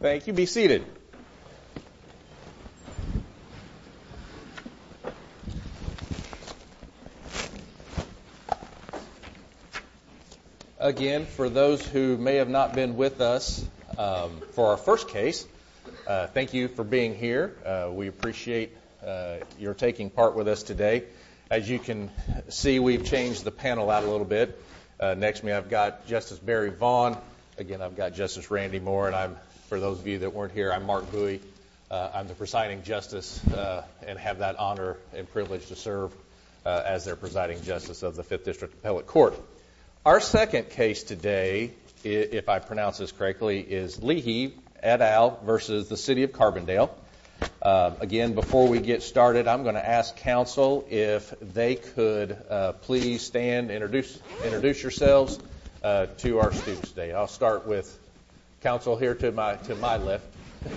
Thank you. Be seated. Again, for those who may have not been with us for our first case, thank you for being here today. You're taking part with us today. As you can see, we've changed the panel out a little bit. Next to me I've got Justice Barry Vaughn. Again, I've got Justice Randy Moore. And for those of you that weren't here, I'm Mark Bouie. I'm the presiding justice and have that honor and privilege to serve as their presiding justice of the Fifth District Appellate Court. Our second case today, if I pronounce this correctly, is Leahy et al. v. City of Carbondale. Again, before we get started, I'm going to ask counsel if they could please stand and introduce yourselves to our students today. I'll start with counsel here to my left. I'm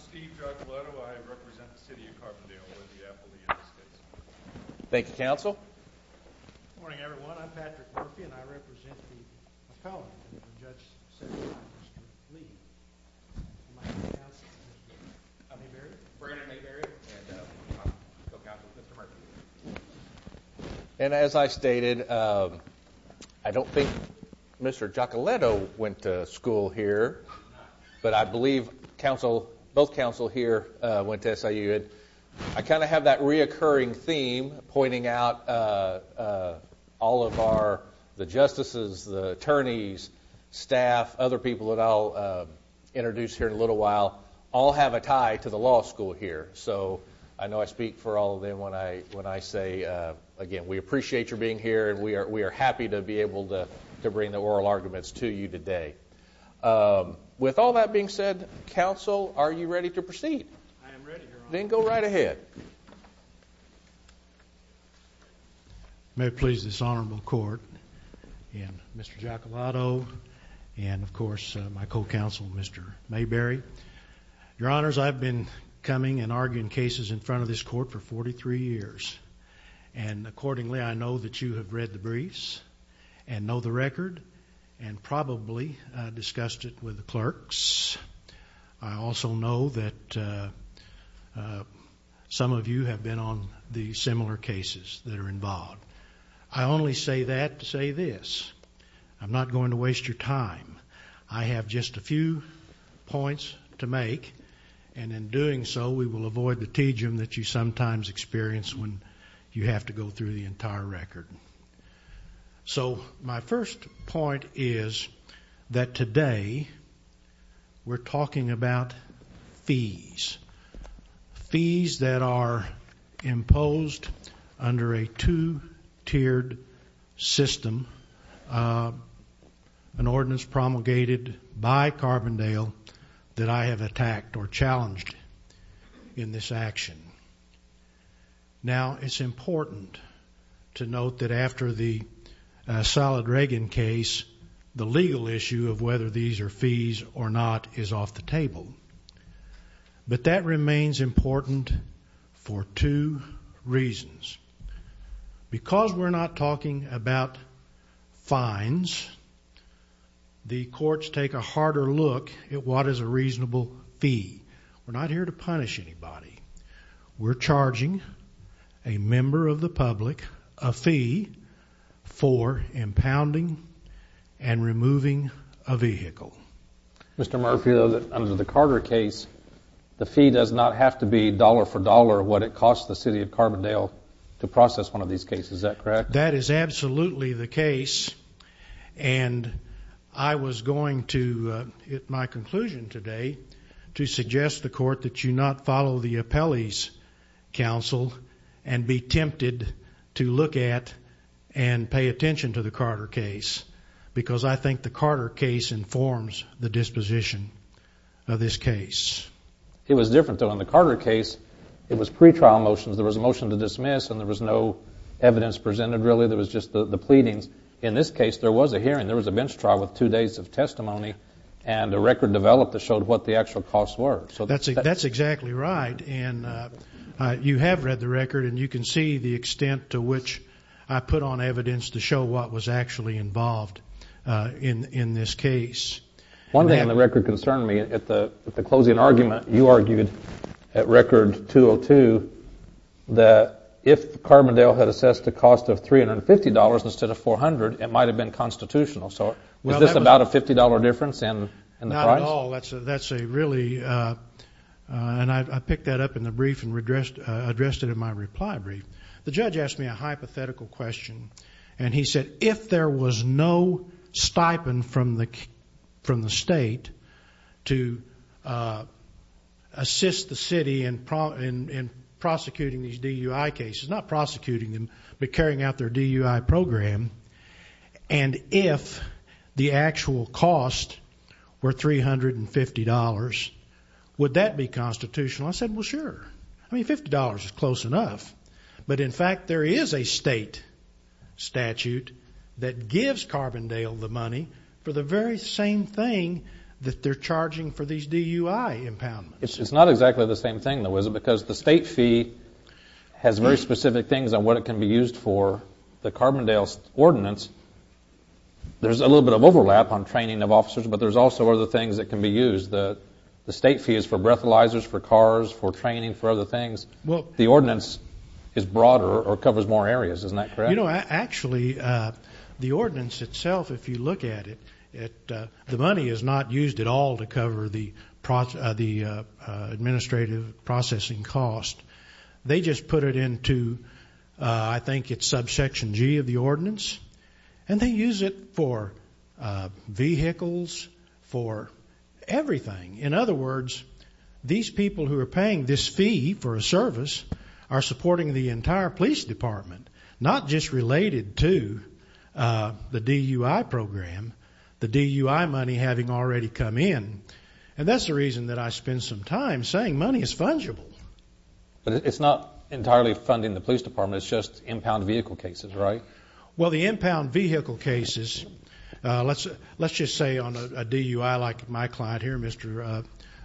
Steve Giacoletto. I represent the City of Carbondale in the Appellate United States. Thank you, counsel. Good morning, everyone. I'm Patrick Murphy and I represent the appellate court. And as I stated, I don't think Mr. Giacoletto went to school here, but I believe both counsel here went to SIU. I kind of have that reoccurring theme pointing out all of our, the justices, the attorneys, staff, other people that I'll introduce here in a little while, all have a tie to the law school here. So I know I speak for all of them when I say, again, we appreciate your being here and we are happy to be able to bring the oral arguments to you today. With all that being said, counsel, are you ready to proceed? I am ready, Your Honor. Then go right ahead. May it please this honorable court and Mr. Giacoletto and, of course, my co-counsel, Mr. Mayberry. Your Honors, I've been coming and arguing cases in front of this court for 43 years. And accordingly, I know that you have read the briefs and know the record and probably discussed it with the clerks. I also know that some of you have been on the similar cases that are involved. I only say that to say this. I'm not going to waste your time. I have just a few points to make. And in doing so, we will avoid the teejum that you sometimes experience when you have to go through the entire record. So my first point is that today we're talking about fees. Fees that are imposed under a two-tiered system, an ordinance promulgated by Carbondale that I have attacked or challenged in this action. Now, it's important to note that after the Salad Reagan case, the legal issue of whether these are fees or not is off the table. But that remains important for two reasons. Because we're not talking about fines, the courts take a harder look at what is a reasonable fee. We're not here to punish anybody. We're charging a member of the public a fee for impounding and removing a vehicle. Mr. Murphy, under the Carter case, the fee does not have to be dollar for dollar what it costs the City of Carbondale to process one of these cases. Is that correct? That is absolutely the case. And I was going to hit my conclusion today to suggest to the Court that you not follow the appellee's counsel and be tempted to look at and pay attention to the Carter case. Because I think the Carter case informs the disposition of this case. It was different, though. In the Carter case, it was pretrial motions. There was a motion to dismiss, and there was no evidence presented, really. There was just the pleadings. In this case, there was a hearing. There was a bench trial with two days of testimony, and a record developed that showed what the actual costs were. That's exactly right. You have read the record, and you can see the extent to which I put on evidence to show what was actually involved in this case. One thing on the record concerned me. At the closing argument, you argued at Record 202 that if Carbondale had assessed a cost of $350 instead of $400, it might have been constitutional. So was this about a $50 difference in the price? Not at all. That's a really, and I picked that up in the brief and addressed it in my reply brief. The judge asked me a hypothetical question, and he said, if there was no stipend from the state to assist the city in prosecuting these DUI cases, but carrying out their DUI program, and if the actual cost were $350, would that be constitutional? I said, well, sure. I mean, $50 is close enough. But, in fact, there is a state statute that gives Carbondale the money for the very same thing that they're charging for these DUI impoundments. It's not exactly the same thing, though, is it? Because the state fee has very specific things on what it can be used for. The Carbondale ordinance, there's a little bit of overlap on training of officers, but there's also other things that can be used. The state fee is for breathalyzers, for cars, for training, for other things. The ordinance is broader or covers more areas. Isn't that correct? You know, actually, the ordinance itself, if you look at it, the money is not used at all to cover the administrative processing cost. They just put it into, I think it's subsection G of the ordinance, and they use it for vehicles, for everything. In other words, these people who are paying this fee for a service are supporting the entire police department, not just related to the DUI program, the DUI money having already come in. And that's the reason that I spend some time saying money is fungible. But it's not entirely funding the police department. It's just impound vehicle cases, right? Well, the impound vehicle cases, let's just say on a DUI like my client here, Mr.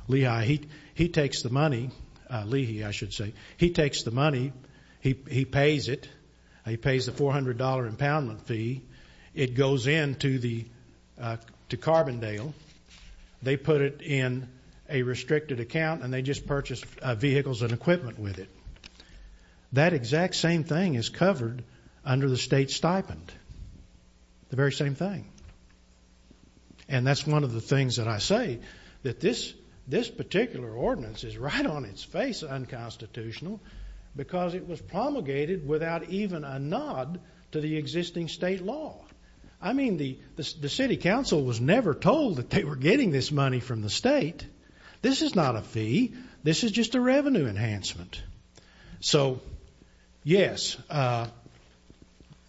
Lehi, he takes the money. He pays it. He pays the $400 impoundment fee. It goes into Carbondale. They put it in a restricted account, and they just purchase vehicles and equipment with it. That exact same thing is covered under the state stipend, the very same thing. And that's one of the things that I say, that this particular ordinance is right on its face unconstitutional because it was promulgated without even a nod to the existing state law. I mean, the city council was never told that they were getting this money from the state. This is not a fee. This is just a revenue enhancement. So, yes,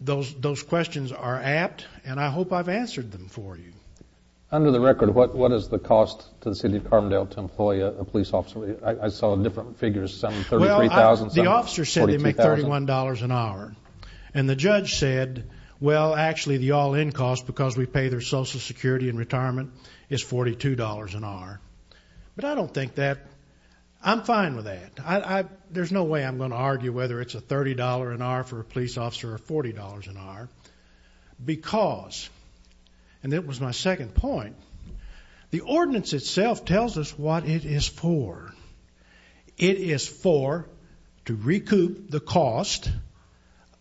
those questions are apt, and I hope I've answered them for you. Under the record, what is the cost to the city of Carbondale to employ a police officer? I saw different figures, some $33,000, some $42,000. Well, the officer said they make $31 an hour. And the judge said, well, actually, the all-in cost because we pay their social security and retirement is $42 an hour. But I don't think that. I'm fine with that. There's no way I'm going to argue whether it's a $30 an hour for a police officer or $40 an hour because, and that was my second point, the ordinance itself tells us what it is for. It is for to recoup the cost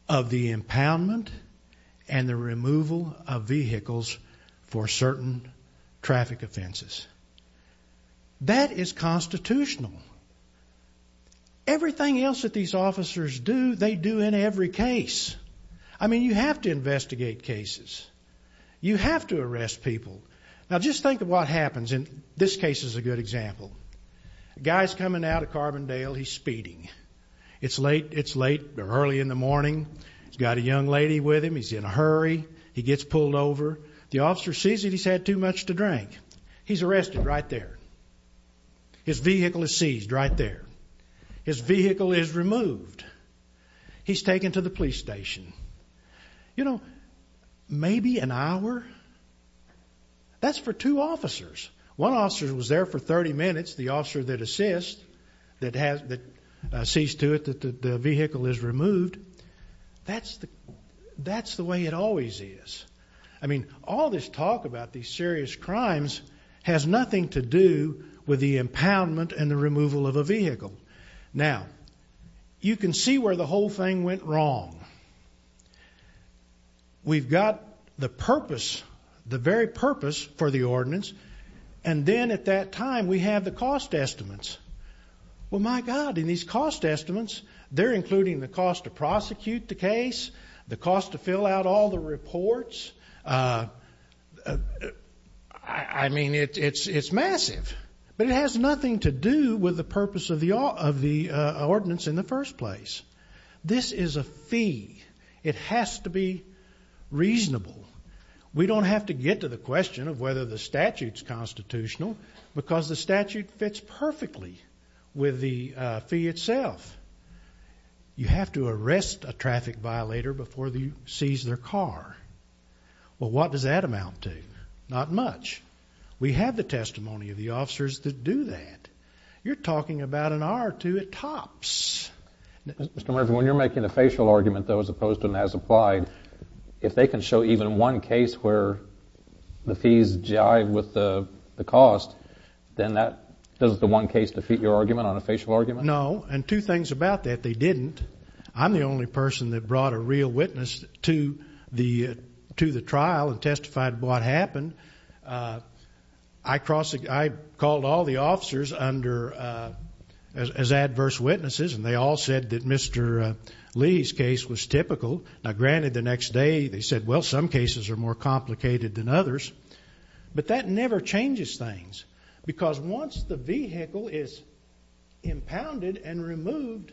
of the impoundment and the removal of vehicles for certain traffic offenses. That is constitutional. Everything else that these officers do, they do in every case. I mean, you have to investigate cases. You have to arrest people. Now, just think of what happens, and this case is a good example. A guy's coming out of Carbondale. He's speeding. It's late. It's late or early in the morning. He's got a young lady with him. He's in a hurry. He gets pulled over. The officer sees that he's had too much to drink. He's arrested right there. His vehicle is seized right there. His vehicle is removed. He's taken to the police station. You know, maybe an hour, that's for two officers. One officer was there for 30 minutes. The officer that assists, that sees to it that the vehicle is removed, that's the way it always is. I mean, all this talk about these serious crimes has nothing to do with the impoundment and the removal of a vehicle. Now, you can see where the whole thing went wrong. We've got the purpose, the very purpose for the ordinance, and then at that time we have the cost estimates. Well, my God, in these cost estimates, they're including the cost to prosecute the case, the cost to fill out all the reports. I mean, it's massive. But it has nothing to do with the purpose of the ordinance in the first place. This is a fee. It has to be reasonable. We don't have to get to the question of whether the statute's constitutional because the statute fits perfectly with the fee itself. You have to arrest a traffic violator before they seize their car. Well, what does that amount to? Not much. We have the testimony of the officers that do that. You're talking about an hour or two at tops. Mr. Murphy, when you're making a facial argument, though, as opposed to an as-applied, if they can show even one case where the fees jive with the cost, then does the one case defeat your argument on a facial argument? No. And two things about that. They didn't. I'm the only person that brought a real witness to the trial and testified what happened. I called all the officers under as adverse witnesses, and they all said that Mr. Lee's case was typical. Now, granted, the next day they said, well, some cases are more complicated than others. But that never changes things. Because once the vehicle is impounded and removed,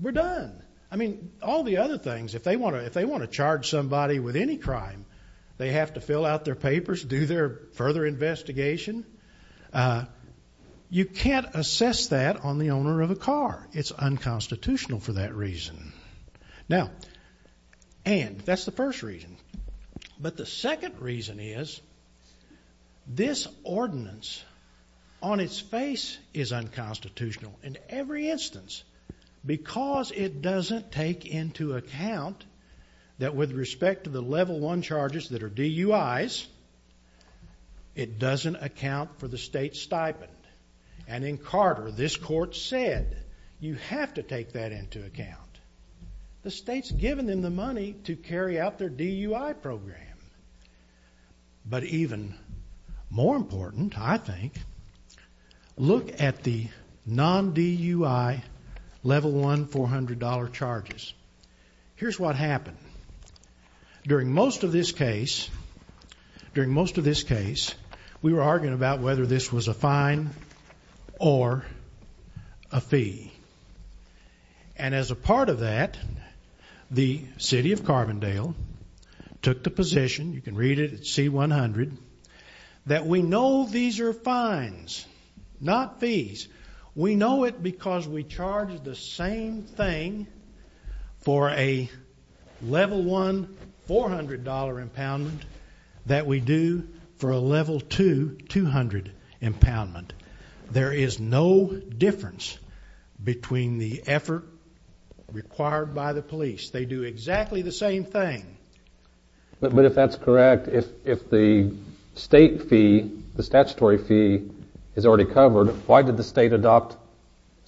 we're done. I mean, all the other things, if they want to charge somebody with any crime, they have to fill out their papers, do their further investigation. You can't assess that on the owner of a car. It's unconstitutional for that reason. Now, and that's the first reason. But the second reason is this ordinance on its face is unconstitutional in every instance because it doesn't take into account that with respect to the level one charges that are DUIs, it doesn't account for the state stipend. And in Carter, this court said you have to take that into account. The state's given them the money to carry out their DUI program. But even more important, I think, look at the non-DUI level one $400 charges. Here's what happened. During most of this case, we were arguing about whether this was a fine or a fee. And as a part of that, the city of Carbondale took the position, you can read it at C-100, that we know these are fines, not fees. We know it because we charge the same thing for a level one $400 impoundment that we do for a level two $200 impoundment. There is no difference between the effort required by the police. They do exactly the same thing. But if that's correct, if the state fee, the statutory fee is already covered, why did the state adopt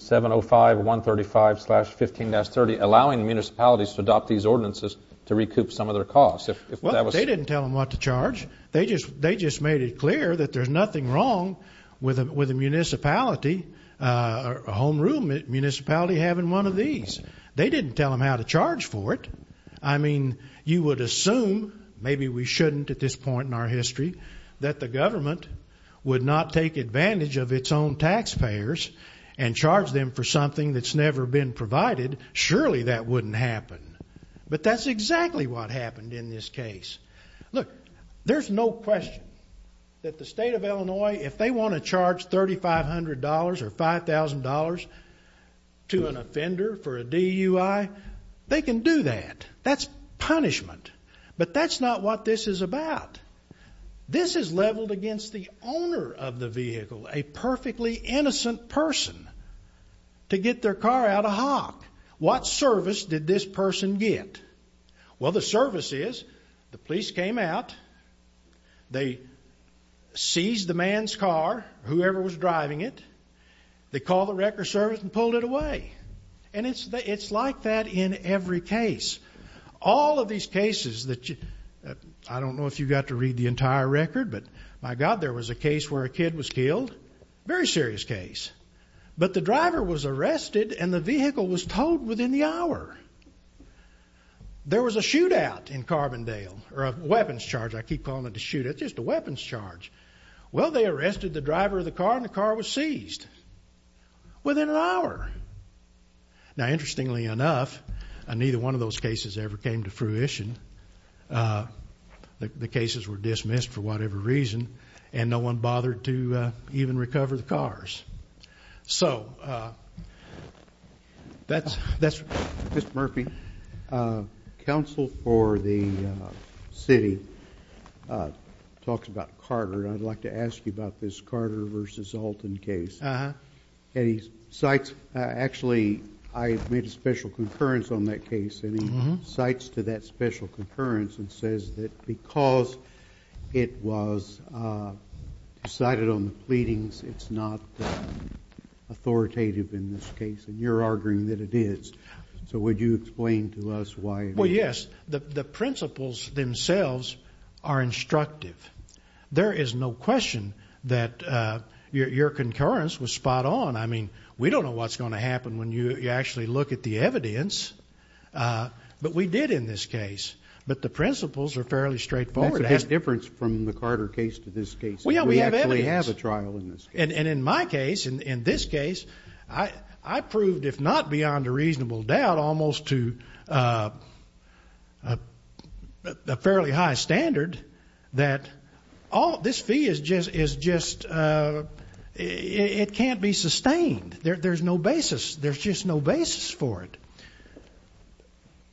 705.135.15-30, allowing municipalities to adopt these ordinances to recoup some of their costs? Well, they didn't tell them what to charge. They just made it clear that there's nothing wrong with a municipality, a home rule municipality having one of these. They didn't tell them how to charge for it. I mean, you would assume, maybe we shouldn't at this point in our history, that the government would not take advantage of its own taxpayers and charge them for something that's never been provided. Surely that wouldn't happen. But that's exactly what happened in this case. Look, there's no question that the state of Illinois, if they want to charge $3,500 or $5,000 to an offender for a DUI, they can do that. That's punishment. But that's not what this is about. This is leveled against the owner of the vehicle, a perfectly innocent person, to get their car out of hock. What service did this person get? Well, the service is the police came out. They seized the man's car, whoever was driving it. They called the record service and pulled it away. And it's like that in every case. All of these cases that you --I don't know if you got to read the entire record, but, my God, there was a case where a kid was killed. Very serious case. But the driver was arrested, and the vehicle was towed within the hour. There was a shootout in Carbondale, or a weapons charge. I keep calling it a shootout. It's just a weapons charge. Well, they arrested the driver of the car, and the car was seized within an hour. Now, interestingly enough, neither one of those cases ever came to fruition. The cases were dismissed for whatever reason, and no one bothered to even recover the cars. So, that's--. Mr. Murphy, counsel for the city talks about Carter, and I'd like to ask you about this Carter v. Alton case. Uh-huh. And he cites, actually, I made a special concurrence on that case, and he cites to that special concurrence and says that because it was decided on the pleadings, it's not authoritative in this case. And you're arguing that it is. So, would you explain to us why? Well, yes. The principles themselves are instructive. There is no question that your concurrence was spot on. I mean, we don't know what's going to happen when you actually look at the evidence. But we did in this case. But the principles are fairly straightforward. That's a big difference from the Carter case to this case. We have evidence. We actually have a trial in this case. And in my case, in this case, I proved, if not beyond a reasonable doubt, almost to a fairly high standard that this fee is just, it can't be sustained. There's no basis. There's just no basis for it.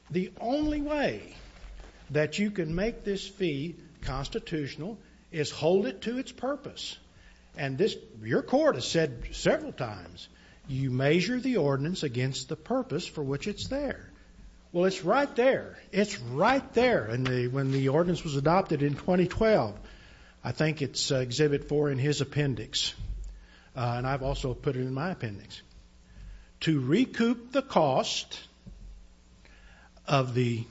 The only way that you can make this fee constitutional is hold it to its purpose. And this, your court has said several times, you measure the ordinance against the purpose for which it's there. Well, it's right there. It's right there. And when the ordinance was adopted in 2012, I think it's Exhibit 4 in his appendix, and I've also put it in my appendix, to recoup the cost of the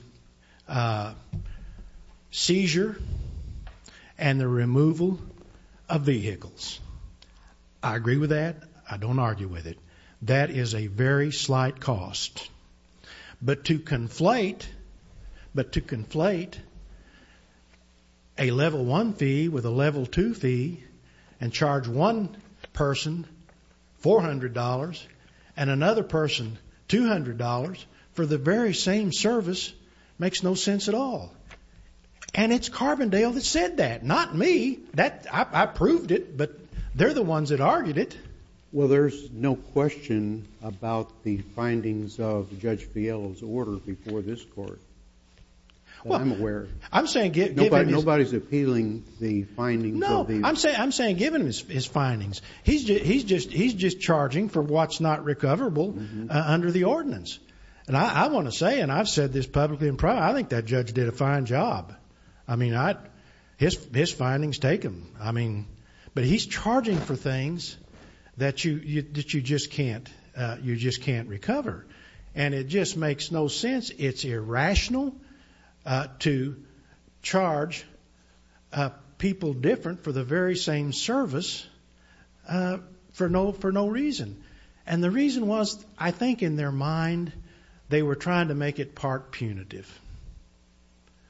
seizure and the removal of vehicles. I agree with that. I don't argue with it. That is a very slight cost. But to conflate a Level 1 fee with a Level 2 fee and charge one person $400 and another person $200 for the very same service makes no sense at all. And it's Carbondale that said that, not me. I proved it, but they're the ones that argued it. Well, there's no question about the findings of Judge Fiello's order before this court. I'm aware. I'm saying give him his... Nobody's appealing the findings of the... No, I'm saying give him his findings. He's just charging for what's not recoverable under the ordinance. And I want to say, and I've said this publicly in private, I think that judge did a fine job. I mean, his findings take him. I mean, but he's charging for things that you just can't recover. And it just makes no sense. It's irrational to charge people different for the very same service for no reason. And the reason was, I think in their mind, they were trying to make it part punitive.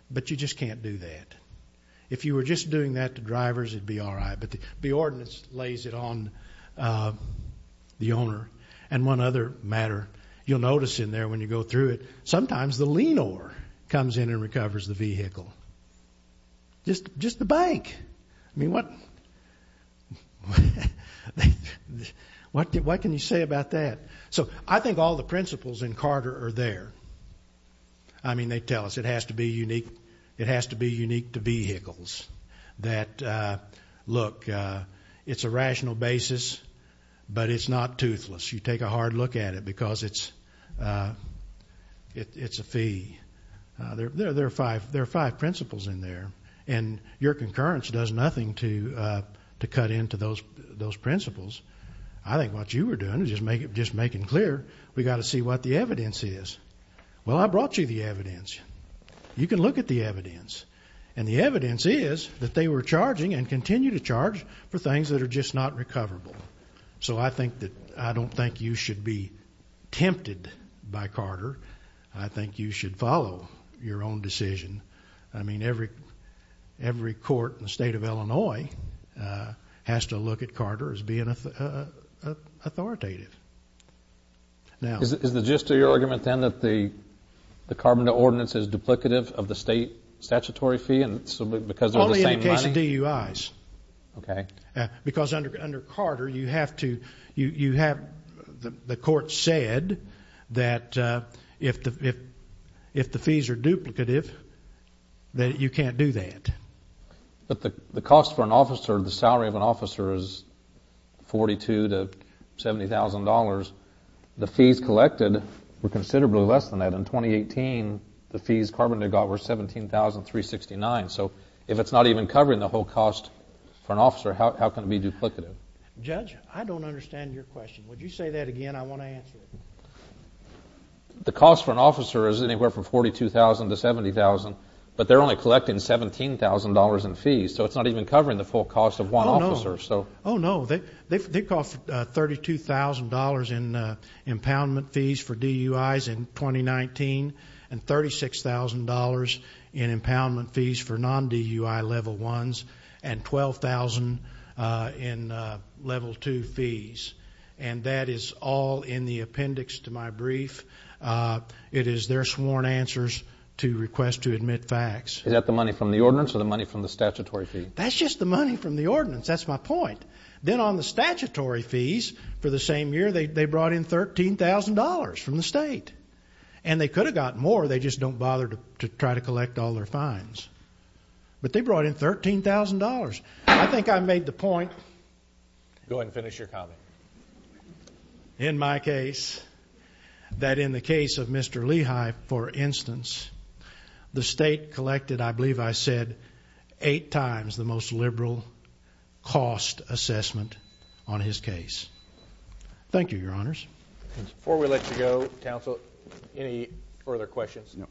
But you just can't do that. If you were just doing that to drivers, it would be all right. But the ordinance lays it on the owner. And one other matter, you'll notice in there when you go through it, sometimes the leanor comes in and recovers the vehicle. Just the bank. I mean, what can you say about that? So I think all the principles in Carter are there. I mean, they tell us it has to be unique. It has to be unique to vehicles. That, look, it's a rational basis, but it's not toothless. You take a hard look at it because it's a fee. There are five principles in there. And your concurrence does nothing to cut into those principles. I think what you were doing was just making clear we've got to see what the evidence is. Well, I brought you the evidence. You can look at the evidence. And the evidence is that they were charging and continue to charge for things that are just not recoverable. So I don't think you should be tempted by Carter. I think you should follow your own decision. I mean, every court in the state of Illinois has to look at Carter as being authoritative. Is the gist of your argument then that the carbon ordinance is duplicative of the state statutory fee because they're the same money? Only in the case of DUIs. Okay. Because under Carter, you have to, you have, the court said that if the fees are duplicative, that you can't do that. But the cost for an officer, the salary of an officer is $42,000 to $70,000. The fees collected were considerably less than that. In 2018, the fees carbon had got were $17,369. So if it's not even covering the whole cost for an officer, how can it be duplicative? Judge, I don't understand your question. Would you say that again? I want to answer it. The cost for an officer is anywhere from $42,000 to $70,000, but they're only collecting $17,000 in fees. So it's not even covering the full cost of one officer. Oh, no. They cost $32,000 in impoundment fees for DUIs in 2019 and $36,000 in impoundment fees for non-DUI level 1s and $12,000 in level 2 fees. And that is all in the appendix to my brief. It is their sworn answers to request to admit facts. Is that the money from the ordinance or the money from the statutory fee? That's just the money from the ordinance. That's my point. Then on the statutory fees for the same year, they brought in $13,000 from the state. And they could have gotten more. They just don't bother to try to collect all their fines. But they brought in $13,000. I think I made the point. Go ahead and finish your comment. In my case, that in the case of Mr. Lehigh, for instance, the state collected, I believe I said, eight times the most liberal cost assessment on his case. Thank you, Your Honors. Before we let you go, Counsel, any further questions? No.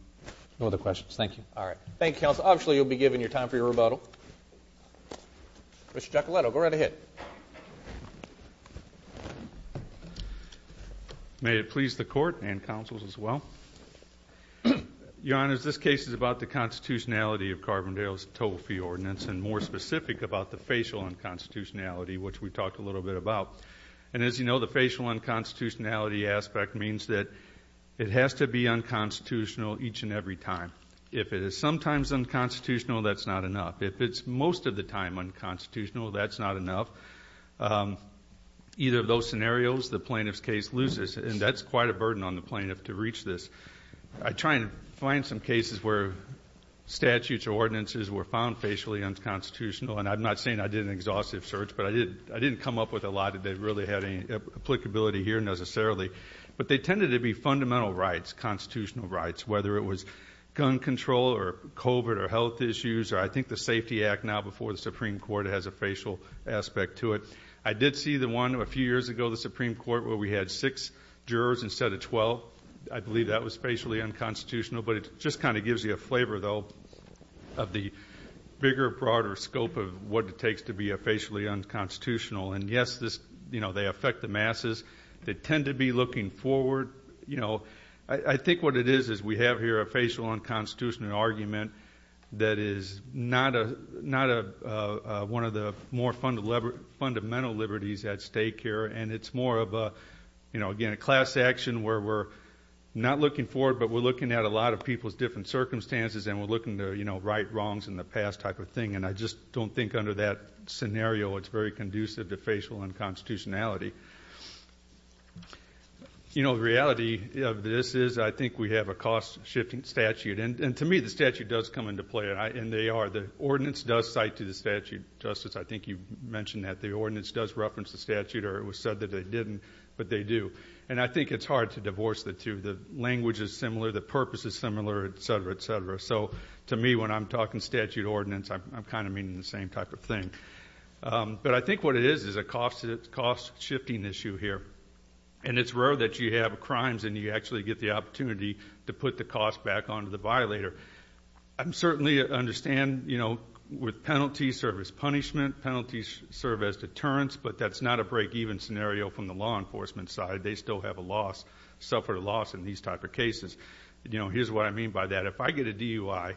No other questions. Thank you. All right. Thank you, Counsel. Obviously, you'll be given your time for your rebuttal. Mr. Giacoletto, go right ahead. May it please the Court and counsels as well. Your Honors, this case is about the constitutionality of Carbondale's total fee ordinance and more specific about the facial unconstitutionality, which we talked a little bit about. And as you know, the facial unconstitutionality aspect means that it has to be unconstitutional each and every time. If it is sometimes unconstitutional, that's not enough. If it's most of the time unconstitutional, that's not enough. Either of those scenarios, the plaintiff's case loses, and that's quite a burden on the plaintiff to reach this. I try and find some cases where statutes or ordinances were found facially unconstitutional, and I'm not saying I did an exhaustive search, but I didn't come up with a lot that really had any applicability here necessarily. But they tended to be fundamental rights, constitutional rights, whether it was gun control or COVID or health issues or I think the Safety Act now before the Supreme Court has a facial aspect to it. I did see the one a few years ago, the Supreme Court, where we had six jurors instead of 12. I believe that was facially unconstitutional, but it just kind of gives you a flavor, though, of the bigger, broader scope of what it takes to be a facially unconstitutional. And, yes, they affect the masses. They tend to be looking forward. I think what it is is we have here a facial unconstitutional argument that is not one of the more fundamental liberties at stake here, and it's more of, again, a class action where we're not looking forward, but we're looking at a lot of people's different circumstances, and we're looking to right wrongs in the past type of thing, and I just don't think under that scenario it's very conducive to facial unconstitutionality. You know, the reality of this is I think we have a cost-shifting statute, and to me the statute does come into play, and they are. The ordinance does cite to the statute. Justice, I think you mentioned that. The ordinance does reference the statute, or it was said that they didn't, but they do. And I think it's hard to divorce the two. The language is similar. The purpose is similar, et cetera, et cetera. So, to me, when I'm talking statute ordinance, I'm kind of meaning the same type of thing. But I think what it is is a cost-shifting issue here, and it's rare that you have crimes and you actually get the opportunity to put the cost back onto the violator. I certainly understand, you know, with penalties serve as punishment, penalties serve as deterrence, but that's not a break-even scenario from the law enforcement side. They still have a loss, suffer a loss in these type of cases. You know, here's what I mean by that. If I get a DUI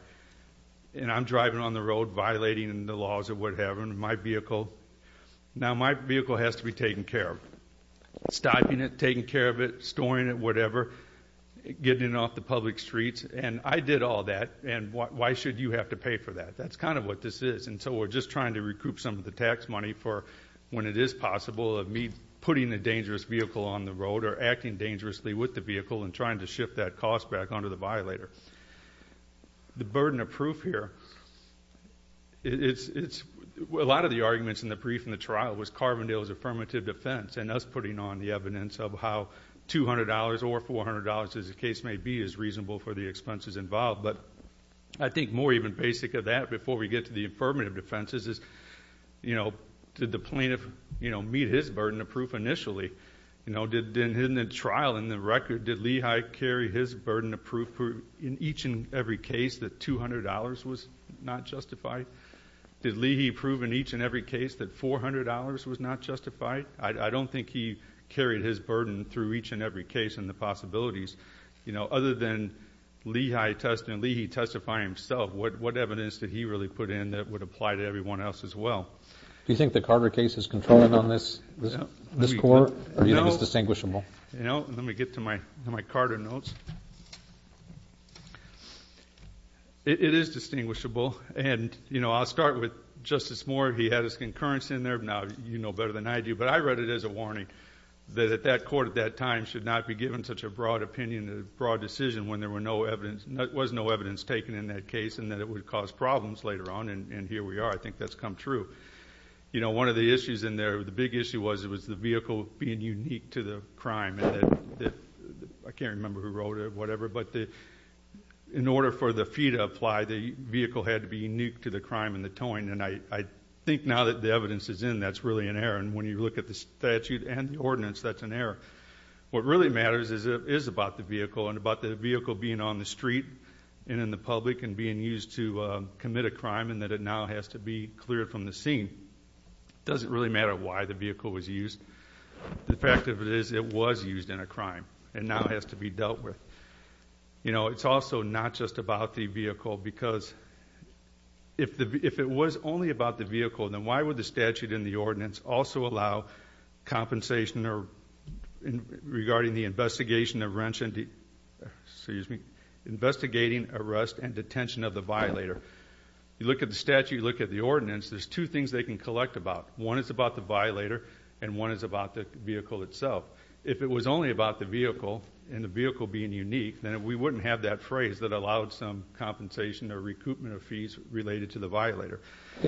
and I'm driving on the road violating the laws of what happened to my vehicle, now my vehicle has to be taken care of. Stopping it, taking care of it, storing it, whatever, getting it off the public streets. And I did all that, and why should you have to pay for that? That's kind of what this is. And so we're just trying to recoup some of the tax money for when it is possible of me putting a dangerous vehicle on the road or acting dangerously with the vehicle and trying to shift that cost back onto the violator. The burden of proof here, a lot of the arguments in the brief and the trial was Carbondale's affirmative defense and us putting on the evidence of how $200 or $400, as the case may be, is reasonable for the expenses involved. But I think more even basic of that, before we get to the affirmative defenses, is, you know, did the plaintiff, you know, meet his burden of proof initially? You know, in the trial, in the record, did Lehi carry his burden of proof in each and every case that $200 was not justified? Did Lehi prove in each and every case that $400 was not justified? I don't think he carried his burden through each and every case and the possibilities. You know, other than Lehi testifying himself, what evidence did he really put in that would apply to everyone else as well? Do you think the Carter case is controlling on this court or do you think it's distinguishable? You know, let me get to my Carter notes. It is distinguishable, and, you know, I'll start with Justice Moore. He had his concurrence in there. Now, you know better than I do, but I read it as a warning that that court at that time should not be given such a broad opinion, a broad decision when there was no evidence taken in that case and that it would cause problems later on, and here we are. I think that's come true. You know, one of the issues in there, the big issue was it was the vehicle being unique to the crime. I can't remember who wrote it, whatever, but in order for the fee to apply, the vehicle had to be unique to the crime and the towing, and I think now that the evidence is in, that's really an error, and when you look at the statute and the ordinance, that's an error. What really matters is about the vehicle and about the vehicle being on the street and in the public and being used to commit a crime and that it now has to be cleared from the scene. It doesn't really matter why the vehicle was used. The fact of it is it was used in a crime and now has to be dealt with. You know, it's also not just about the vehicle because if it was only about the vehicle, then why would the statute and the ordinance also allow compensation regarding the investigation of wrenching, excuse me, investigating, arrest, and detention of the violator? You look at the statute, you look at the ordinance, there's two things they can collect about. One is about the violator and one is about the vehicle itself. If it was only about the vehicle and the vehicle being unique, then we wouldn't have that phrase that allowed some compensation or recoupment of fees related to the violator.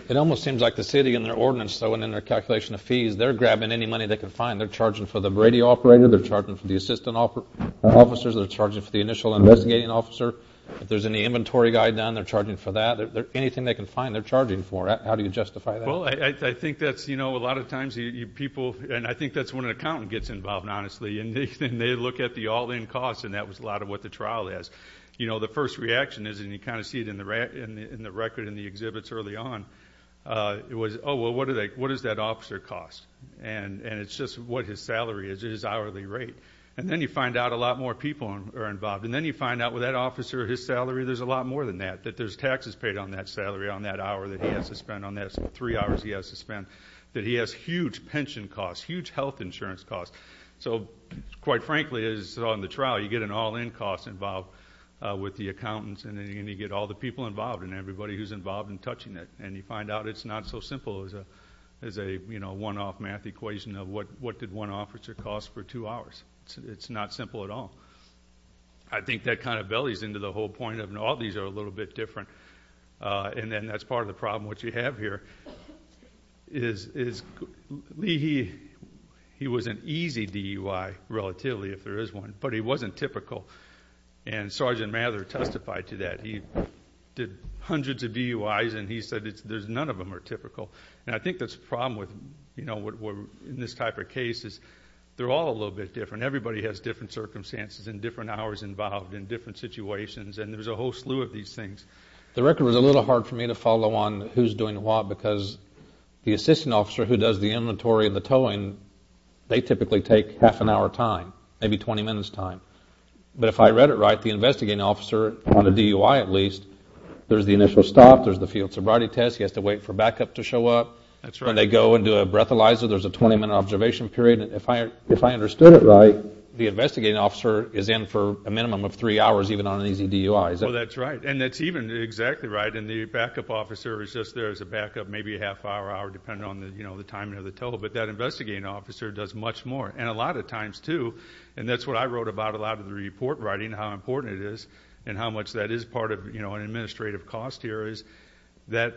It almost seems like the city in their ordinance, though, and in their calculation of fees, they're grabbing any money they can find. They're charging for the Brady operator, they're charging for the assistant officers, they're charging for the initial investigating officer. If there's any inventory guy down, they're charging for that. Anything they can find, they're charging for. How do you justify that? Well, I think that's, you know, a lot of times people, and I think that's when an accountant gets involved, honestly, and they look at the all-in costs and that was a lot of what the trial is. You know, the first reaction is, and you kind of see it in the record in the exhibits early on, it was, oh, well, what does that officer cost? And it's just what his salary is, his hourly rate. And then you find out a lot more people are involved. And then you find out with that officer, his salary, there's a lot more than that, that there's taxes paid on that salary, on that hour that he has to spend, on that three hours he has to spend, that he has huge pension costs, huge health insurance costs. So, quite frankly, as you saw in the trial, you get an all-in cost involved with the accountants, and then you get all the people involved and everybody who's involved in touching it. And you find out it's not so simple as a, you know, one-off math equation of what did one officer cost for two hours? It's not simple at all. I think that kind of bellies into the whole point of, you know, all these are a little bit different, and then that's part of the problem, what you have here is Lee, he was an easy DUI, relatively, if there is one, but he wasn't typical. And Sergeant Mather testified to that. He did hundreds of DUIs, and he said none of them are typical. And I think that's the problem with, you know, in this type of case is they're all a little bit different. Everybody has different circumstances and different hours involved and different situations, and there's a whole slew of these things. The record was a little hard for me to follow on who's doing what because the assistant officer who does the inventory and the towing, they typically take half an hour time, maybe 20 minutes time. But if I read it right, the investigating officer on a DUI at least, there's the initial stop, there's the field sobriety test, he has to wait for backup to show up. That's right. When they go and do a breathalyzer, there's a 20-minute observation period. If I understood it right, the investigating officer is in for a minimum of three hours even on an easy DUI. Well, that's right, and that's even exactly right, and the backup officer is just there as a backup maybe a half hour, hour, depending on the timing of the tow. But that investigating officer does much more, and a lot of times too, and that's what I wrote about a lot of the report writing, how important it is and how much that is part of an administrative cost here is that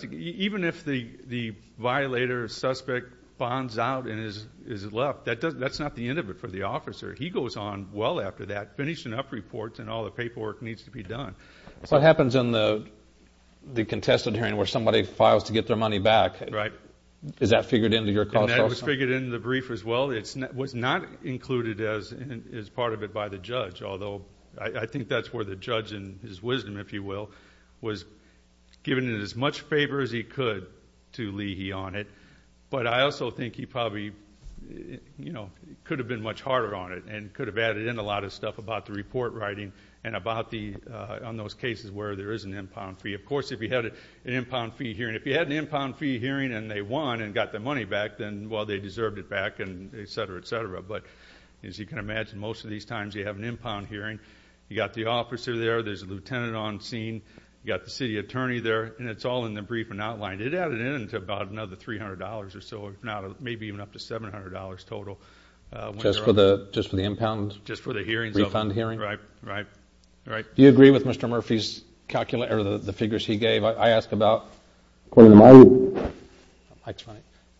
even if the violator, suspect bonds out and is left, that's not the end of it for the officer. He goes on well after that, finishing up reports and all the paperwork needs to be done. What happens in the contested hearing where somebody files to get their money back? Right. Is that figured into your cost also? That was figured into the brief as well. It was not included as part of it by the judge, although I think that's where the judge, in his wisdom, if you will, was giving it as much favor as he could to Leahy on it, but I also think he probably could have been much harder on it and could have added in a lot of stuff about the report writing and about on those cases where there is an impound fee. Of course, if you had an impound fee hearing, if you had an impound fee hearing and they won and got their money back, then, well, they deserved it back, et cetera, et cetera. But as you can imagine, most of these times you have an impound hearing, you've got the officer there, there's a lieutenant on scene, you've got the city attorney there, and it's all in the brief and outlined. It added in to about another $300 or so, maybe even up to $700 total. Just for the impound? Just for the hearings. Refund hearing? Right, right, right. Do you agree with Mr. Murphy's calculation or the figures he gave? I ask about?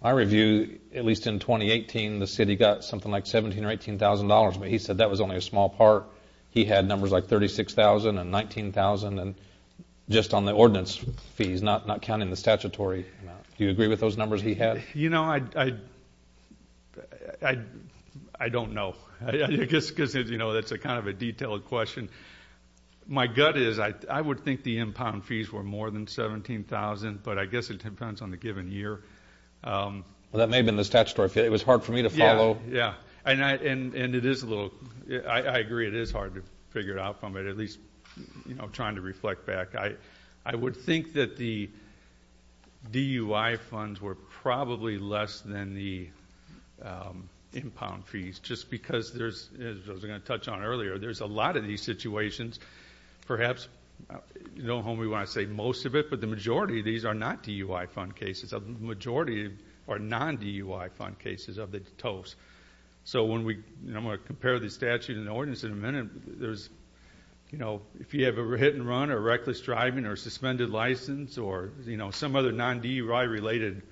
My review, at least in 2018, the city got something like $17,000 or $18,000, but he said that was only a small part. He had numbers like $36,000 and $19,000 just on the ordinance fees, not counting the statutory amount. Do you agree with those numbers he had? You know, I don't know. I guess because, you know, that's kind of a detailed question. My gut is I would think the impound fees were more than $17,000, but I guess it depends on the given year. Well, that may have been the statutory fee. It was hard for me to follow. Yeah, yeah. And it is a little – I agree it is hard to figure it out from it, at least trying to reflect back. I would think that the DUI funds were probably less than the impound fees, just because there's – as I was going to touch on earlier, there's a lot of these situations. Perhaps, you know, when we want to say most of it, but the majority of these are not DUI fund cases. The majority are non-DUI fund cases of the TOEFs. So when we – I'm going to compare the statute and the ordinance in a minute. You know, if you have a hit-and-run or reckless driving or suspended license or, you know, some other non-DUI related,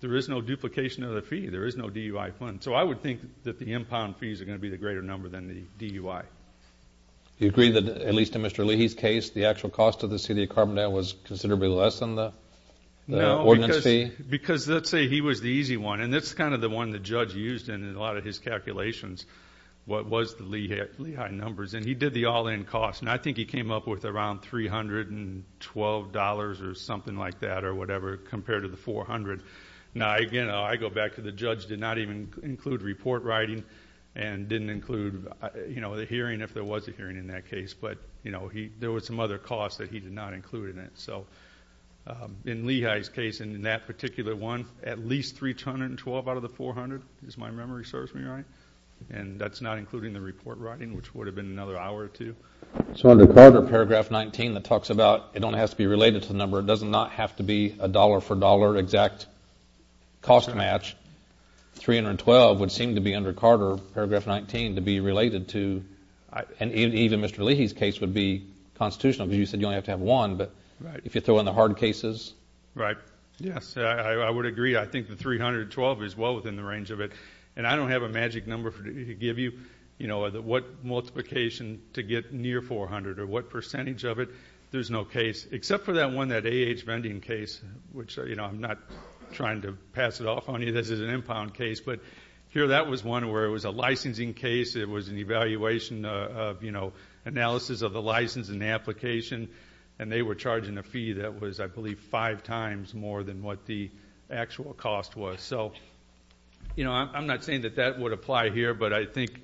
there is no duplication of the fee. There is no DUI fund. So I would think that the impound fees are going to be the greater number than the DUI. You agree that, at least in Mr. Leahy's case, the actual cost of the city of Carbondale was considerably less than the ordinance fee? No, because let's say he was the easy one, and that's kind of the one the judge used in a lot of his calculations, what was the Lehigh numbers. And he did the all-in cost, and I think he came up with around $312 or something like that or whatever compared to the $400. Now, again, I go back to the judge did not even include report writing and didn't include, you know, the hearing if there was a hearing in that case. But, you know, there were some other costs that he did not include in it. So in Lehigh's case and in that particular one, at least $312 out of the $400. If my memory serves me right. And that's not including the report writing, which would have been another hour or two. So under Carter, Paragraph 19, it talks about it only has to be related to the number. It does not have to be a dollar-for-dollar exact cost match. $312 would seem to be under Carter, Paragraph 19, to be related to. And even Mr. Leahy's case would be constitutional because you said you only have to have one. But if you throw in the hard cases. Right. Yes, I would agree. I think the $312 is well within the range of it. And I don't have a magic number to give you, you know, what multiplication to get near $400 or what percentage of it. There's no case except for that one, that AAH vending case, which, you know, I'm not trying to pass it off on you. This is an impound case. But here that was one where it was a licensing case. It was an evaluation of, you know, analysis of the license and application. And they were charging a fee that was, I believe, five times more than what the actual cost was. So, you know, I'm not saying that that would apply here. But I think,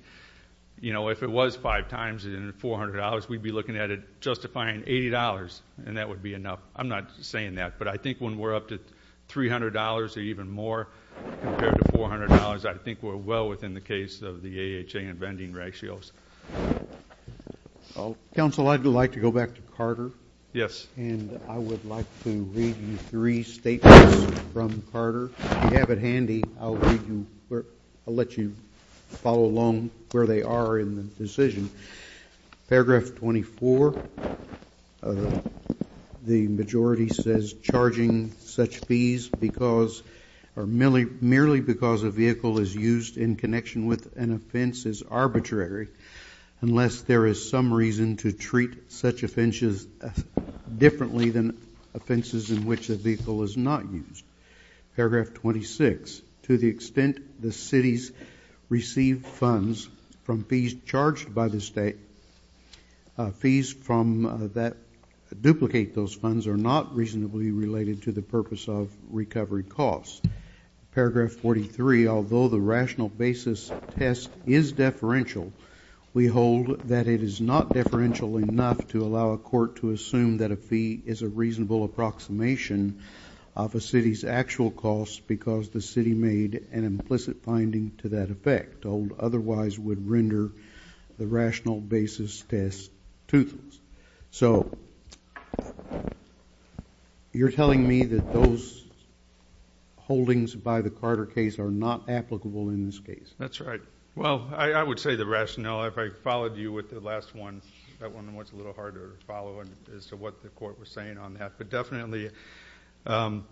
you know, if it was five times and $400, we'd be looking at it justifying $80 and that would be enough. I'm not saying that. But I think when we're up to $300 or even more compared to $400, I think we're well within the case of the AHA and vending ratios. Counsel, I'd like to go back to Carter. Yes. And I would like to read you three statements from Carter. If you have it handy, I'll let you follow along where they are in the decision. Paragraph 24, the majority says, charging such fees because or merely because a vehicle is used in connection with an offense is arbitrary unless there is some reason to treat such offenses differently than offenses in which a vehicle is not used. Paragraph 26, to the extent the cities receive funds from fees charged by the state, fees from that duplicate those funds are not reasonably related to the purpose of recovery costs. Paragraph 43, although the rational basis test is deferential, we hold that it is not deferential enough to allow a court to assume that a fee is a reasonable approximation of a city's actual costs because the city made an implicit finding to that effect and otherwise would render the rational basis test toothless. So you're telling me that those holdings by the Carter case are not applicable in this case? That's right. Well, I would say the rationale, if I followed you with the last one, that one was a little harder to follow as to what the court was saying on that. But definitely about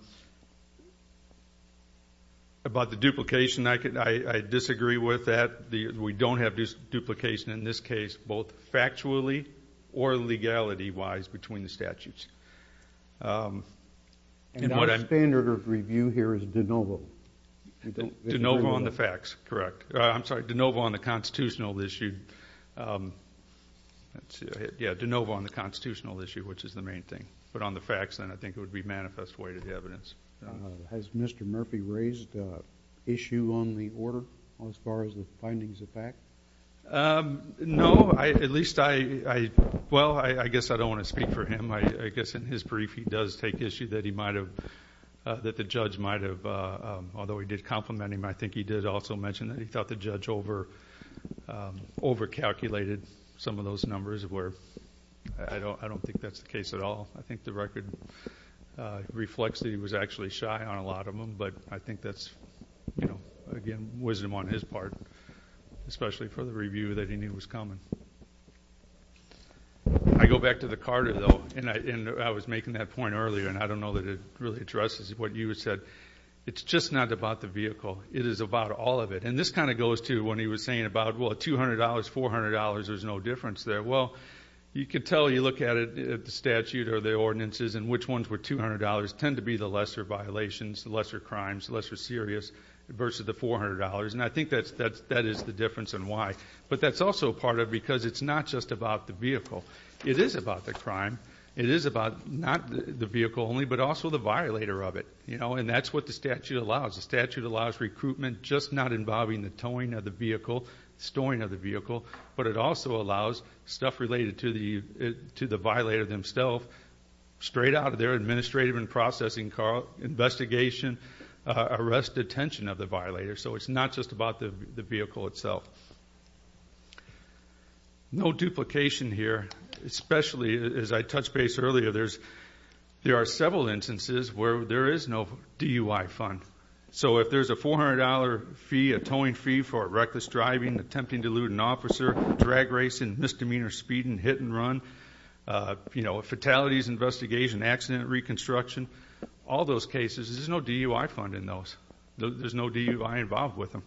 the duplication, I disagree with that. We don't have duplication in this case, both factually or legality-wise, between the statutes. And our standard of review here is de novo. De novo on the facts, correct. I'm sorry, de novo on the constitutional issue. Yeah, de novo on the constitutional issue, which is the main thing. But on the facts, then, I think it would be manifest way to the evidence. Has Mr. Murphy raised issue on the order as far as the findings of fact? No. At least I, well, I guess I don't want to speak for him. I guess in his brief he does take issue that he might have, that the judge might have, although he did compliment him, I think he did also mention that he thought the judge overcalculated some of those numbers where I don't think that's the case at all. I think the record reflects that he was actually shy on a lot of them. But I think that's, you know, again, wisdom on his part, especially for the review that he knew was coming. I go back to the Carter, though, and I was making that point earlier, and I don't know that it really addresses what you said. It's just not about the vehicle. It is about all of it. And this kind of goes to when he was saying about, well, $200, $400, there's no difference there. Well, you can tell, you look at it, the statute or the ordinances, and which ones were $200 tend to be the lesser violations, the lesser crimes, the lesser serious versus the $400. And I think that is the difference and why. But that's also part of it because it's not just about the vehicle. It is about the crime. It is about not the vehicle only but also the violator of it, you know, and that's what the statute allows. The statute allows recruitment just not involving the towing of the vehicle, storing of the vehicle, but it also allows stuff related to the violator themselves straight out of their administrative and processing car investigation, arrest, detention of the violator. So it's not just about the vehicle itself. No duplication here, especially as I touched base earlier, there are several instances where there is no DUI fund. So if there's a $400 fee, a towing fee for reckless driving, attempting to elude an officer, drag racing, misdemeanor speeding, hit and run, you know, fatalities investigation, accident reconstruction, all those cases, there's no DUI fund in those. There's no DUI involved with them.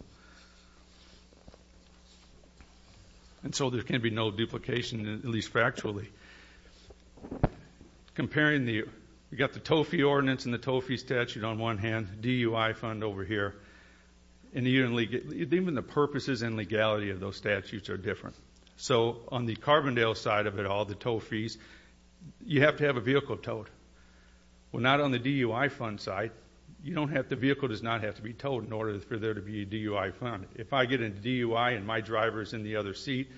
And so there can be no duplication, at least factually. Comparing the tow fee ordinance and the tow fee statute on one hand, DUI fund over here, even the purposes and legality of those statutes are different. So on the Carbondale side of it all, the tow fees, you have to have a vehicle towed. Well, not on the DUI fund side. The vehicle does not have to be towed in order for there to be a DUI fund. If I get into DUI and my driver is in the other seat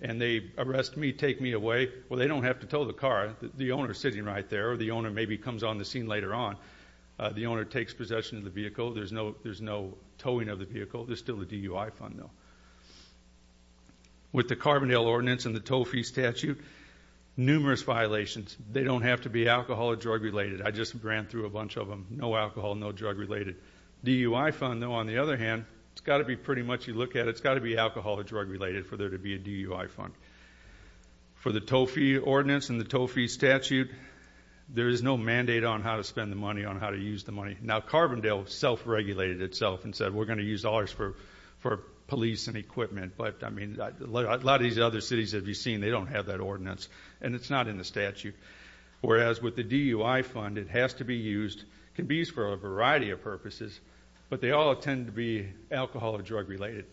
and they arrest me, take me away, well, they don't have to tow the car. The owner is sitting right there, or the owner maybe comes on the scene later on. The owner takes possession of the vehicle. There's no towing of the vehicle. There's still a DUI fund, though. With the Carbondale ordinance and the tow fee statute, numerous violations. They don't have to be alcohol or drug related. I just ran through a bunch of them. No alcohol, no drug related. DUI fund, though, on the other hand, it's got to be pretty much, you look at it, it's got to be alcohol or drug related for there to be a DUI fund. For the tow fee ordinance and the tow fee statute, there is no mandate on how to spend the money, on how to use the money. Now, Carbondale self-regulated itself and said, we're going to use ours for police and equipment. But, I mean, a lot of these other cities that you've seen, they don't have that ordinance, and it's not in the statute. Whereas with the DUI fund, it has to be used. It can be used for a variety of purposes, but they all tend to be alcohol or drug related.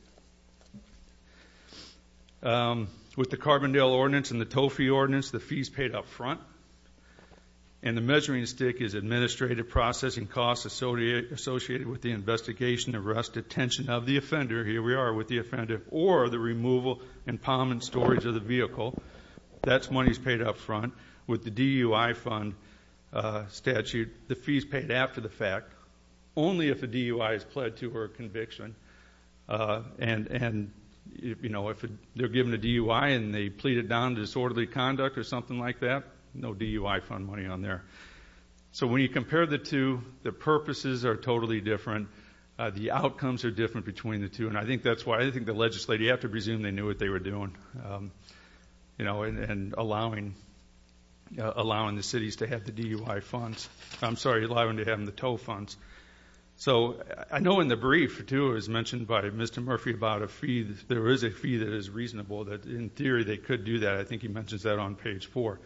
With the Carbondale ordinance and the tow fee ordinance, the fee is paid up front. And the measuring stick is administrative processing costs associated with the investigation, arrest, detention of the offender. Here we are with the offender. Or the removal and palm and storage of the vehicle. That money is paid up front. With the DUI fund statute, the fee is paid after the fact. Only if the DUI is pled to or a conviction. And, you know, if they're given a DUI and they plead it down to disorderly conduct or something like that, no DUI fund money on there. So when you compare the two, the purposes are totally different. The outcomes are different between the two. And I think that's why I think the legislature, you have to presume they knew what they were doing. You know, and allowing the cities to have the DUI funds. I'm sorry, allowing them to have the tow funds. So I know in the brief, too, as mentioned by Mr. Murphy about a fee, there is a fee that is reasonable that in theory they could do that. I think he mentions that on page four.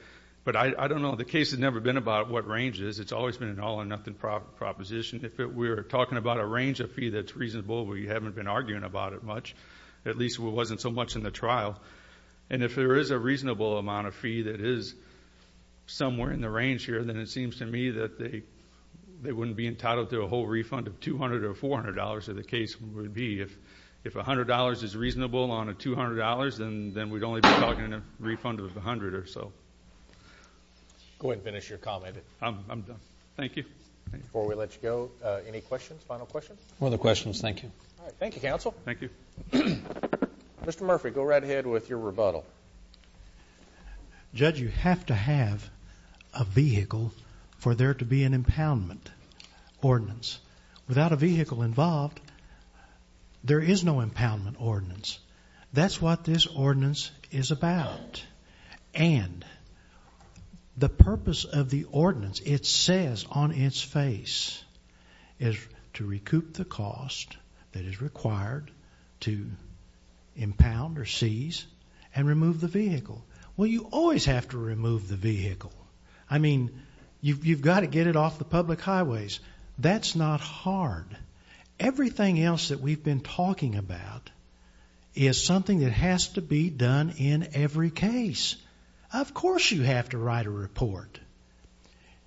But I don't know. The case has never been about what range it is. It's always been an all or nothing proposition. If we're talking about a range of fee that's reasonable, we haven't been arguing about it much. At least it wasn't so much in the trial. And if there is a reasonable amount of fee that is somewhere in the range here, then it seems to me that they wouldn't be entitled to a whole refund of $200 or $400, as the case would be. If $100 is reasonable on a $200, then we'd only be talking a refund of $100 or so. Go ahead and finish your comment. I'm done. Thank you. Before we let you go, any questions, final questions? No other questions. Thank you. All right. Thank you, counsel. Thank you. Mr. Murphy, go right ahead with your rebuttal. Judge, you have to have a vehicle for there to be an impoundment ordinance. Without a vehicle involved, there is no impoundment ordinance. That's what this ordinance is about. And the purpose of the ordinance, it says on its face, is to recoup the cost that is required to impound or seize and remove the vehicle. Well, you always have to remove the vehicle. I mean, you've got to get it off the public highways. That's not hard. Everything else that we've been talking about is something that has to be done in every case. Of course you have to write a report.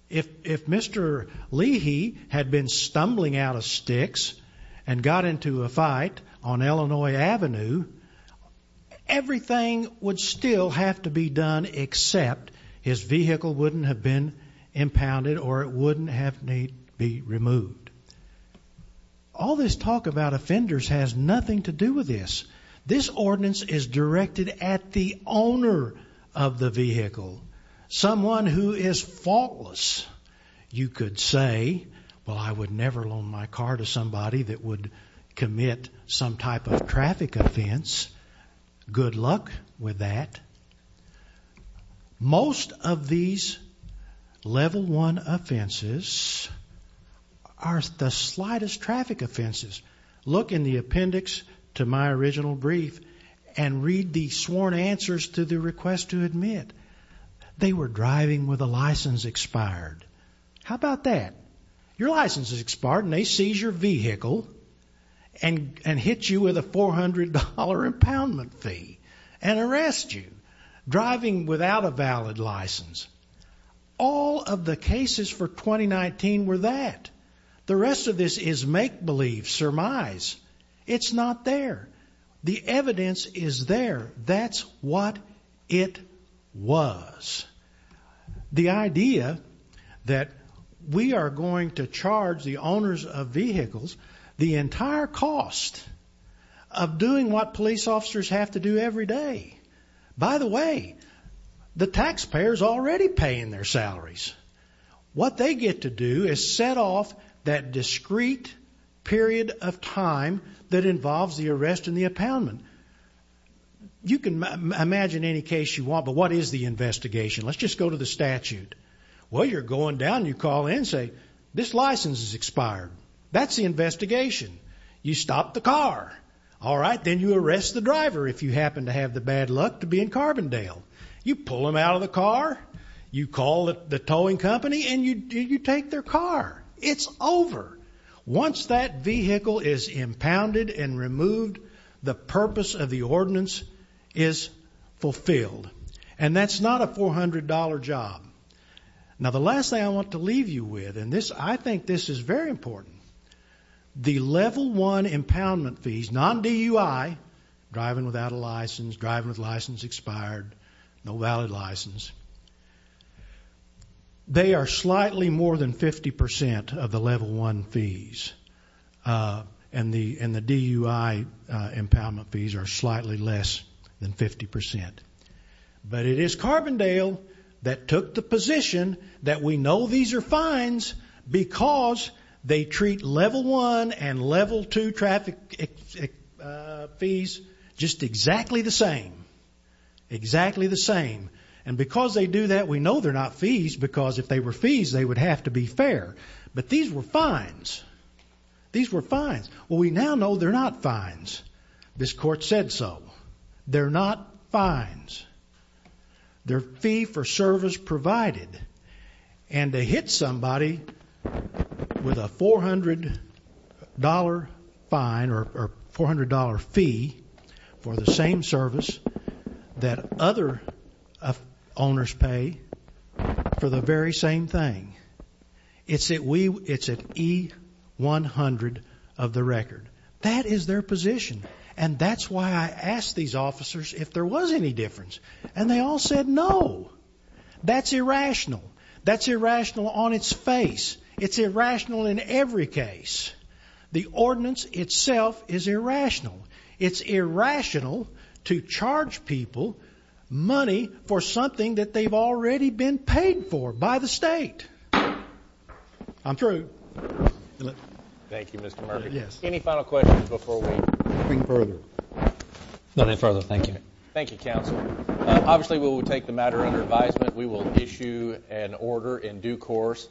If Mr. Leahy had been stumbling out of sticks and got into a fight on Illinois Avenue, everything would still have to be done except his vehicle wouldn't have been impounded or it wouldn't have been removed. All this talk about offenders has nothing to do with this. This ordinance is directed at the owner of the vehicle, someone who is faultless. You could say, well, I would never loan my car to somebody that would commit some type of traffic offense. Good luck with that. Most of these level one offenses are the slightest traffic offenses. Look in the appendix to my original brief and read the sworn answers to the request to admit. They were driving with a license expired. How about that? Your license is expired and they seize your vehicle and hit you with a $400 impoundment fee and arrest you, driving without a valid license. All of the cases for 2019 were that. The rest of this is make believe, surmise. It's not there. The evidence is there. That's what it was. The idea that we are going to charge the owners of vehicles the entire cost of doing what police officers have to do every day. What they get to do is set off that discrete period of time that involves the arrest and the impoundment. You can imagine any case you want, but what is the investigation? Let's just go to the statute. Well, you're going down and you call in and say, this license is expired. That's the investigation. You stop the car. All right, then you arrest the driver if you happen to have the bad luck to be in Carbondale. You pull him out of the car. You call the towing company and you take their car. It's over. Once that vehicle is impounded and removed, the purpose of the ordinance is fulfilled. And that's not a $400 job. Now, the last thing I want to leave you with, and I think this is very important, the level one impoundment fees, non-DUI, driving without a license, driving with license expired, no valid license, they are slightly more than 50% of the level one fees. And the DUI impoundment fees are slightly less than 50%. But it is Carbondale that took the position that we know these are fines because they treat level one and level two traffic fees just exactly the same, exactly the same. And because they do that, we know they're not fees because if they were fees, they would have to be fair. But these were fines. These were fines. Well, we now know they're not fines. This court said so. They're not fines. They're fee for service provided. And to hit somebody with a $400 fine or $400 fee for the same service that other owners pay for the very same thing, it's at E100 of the record. That is their position. And that's why I asked these officers if there was any difference. And they all said no. That's irrational. That's irrational on its face. It's irrational in every case. The ordinance itself is irrational. It's irrational to charge people money for something that they've already been paid for by the state. I'm through. Thank you, Mr. Murphy. Any final questions before we go any further? None any further. Thank you. Thank you, counsel. Obviously, we will take the matter under advisement. We will issue an order in due course.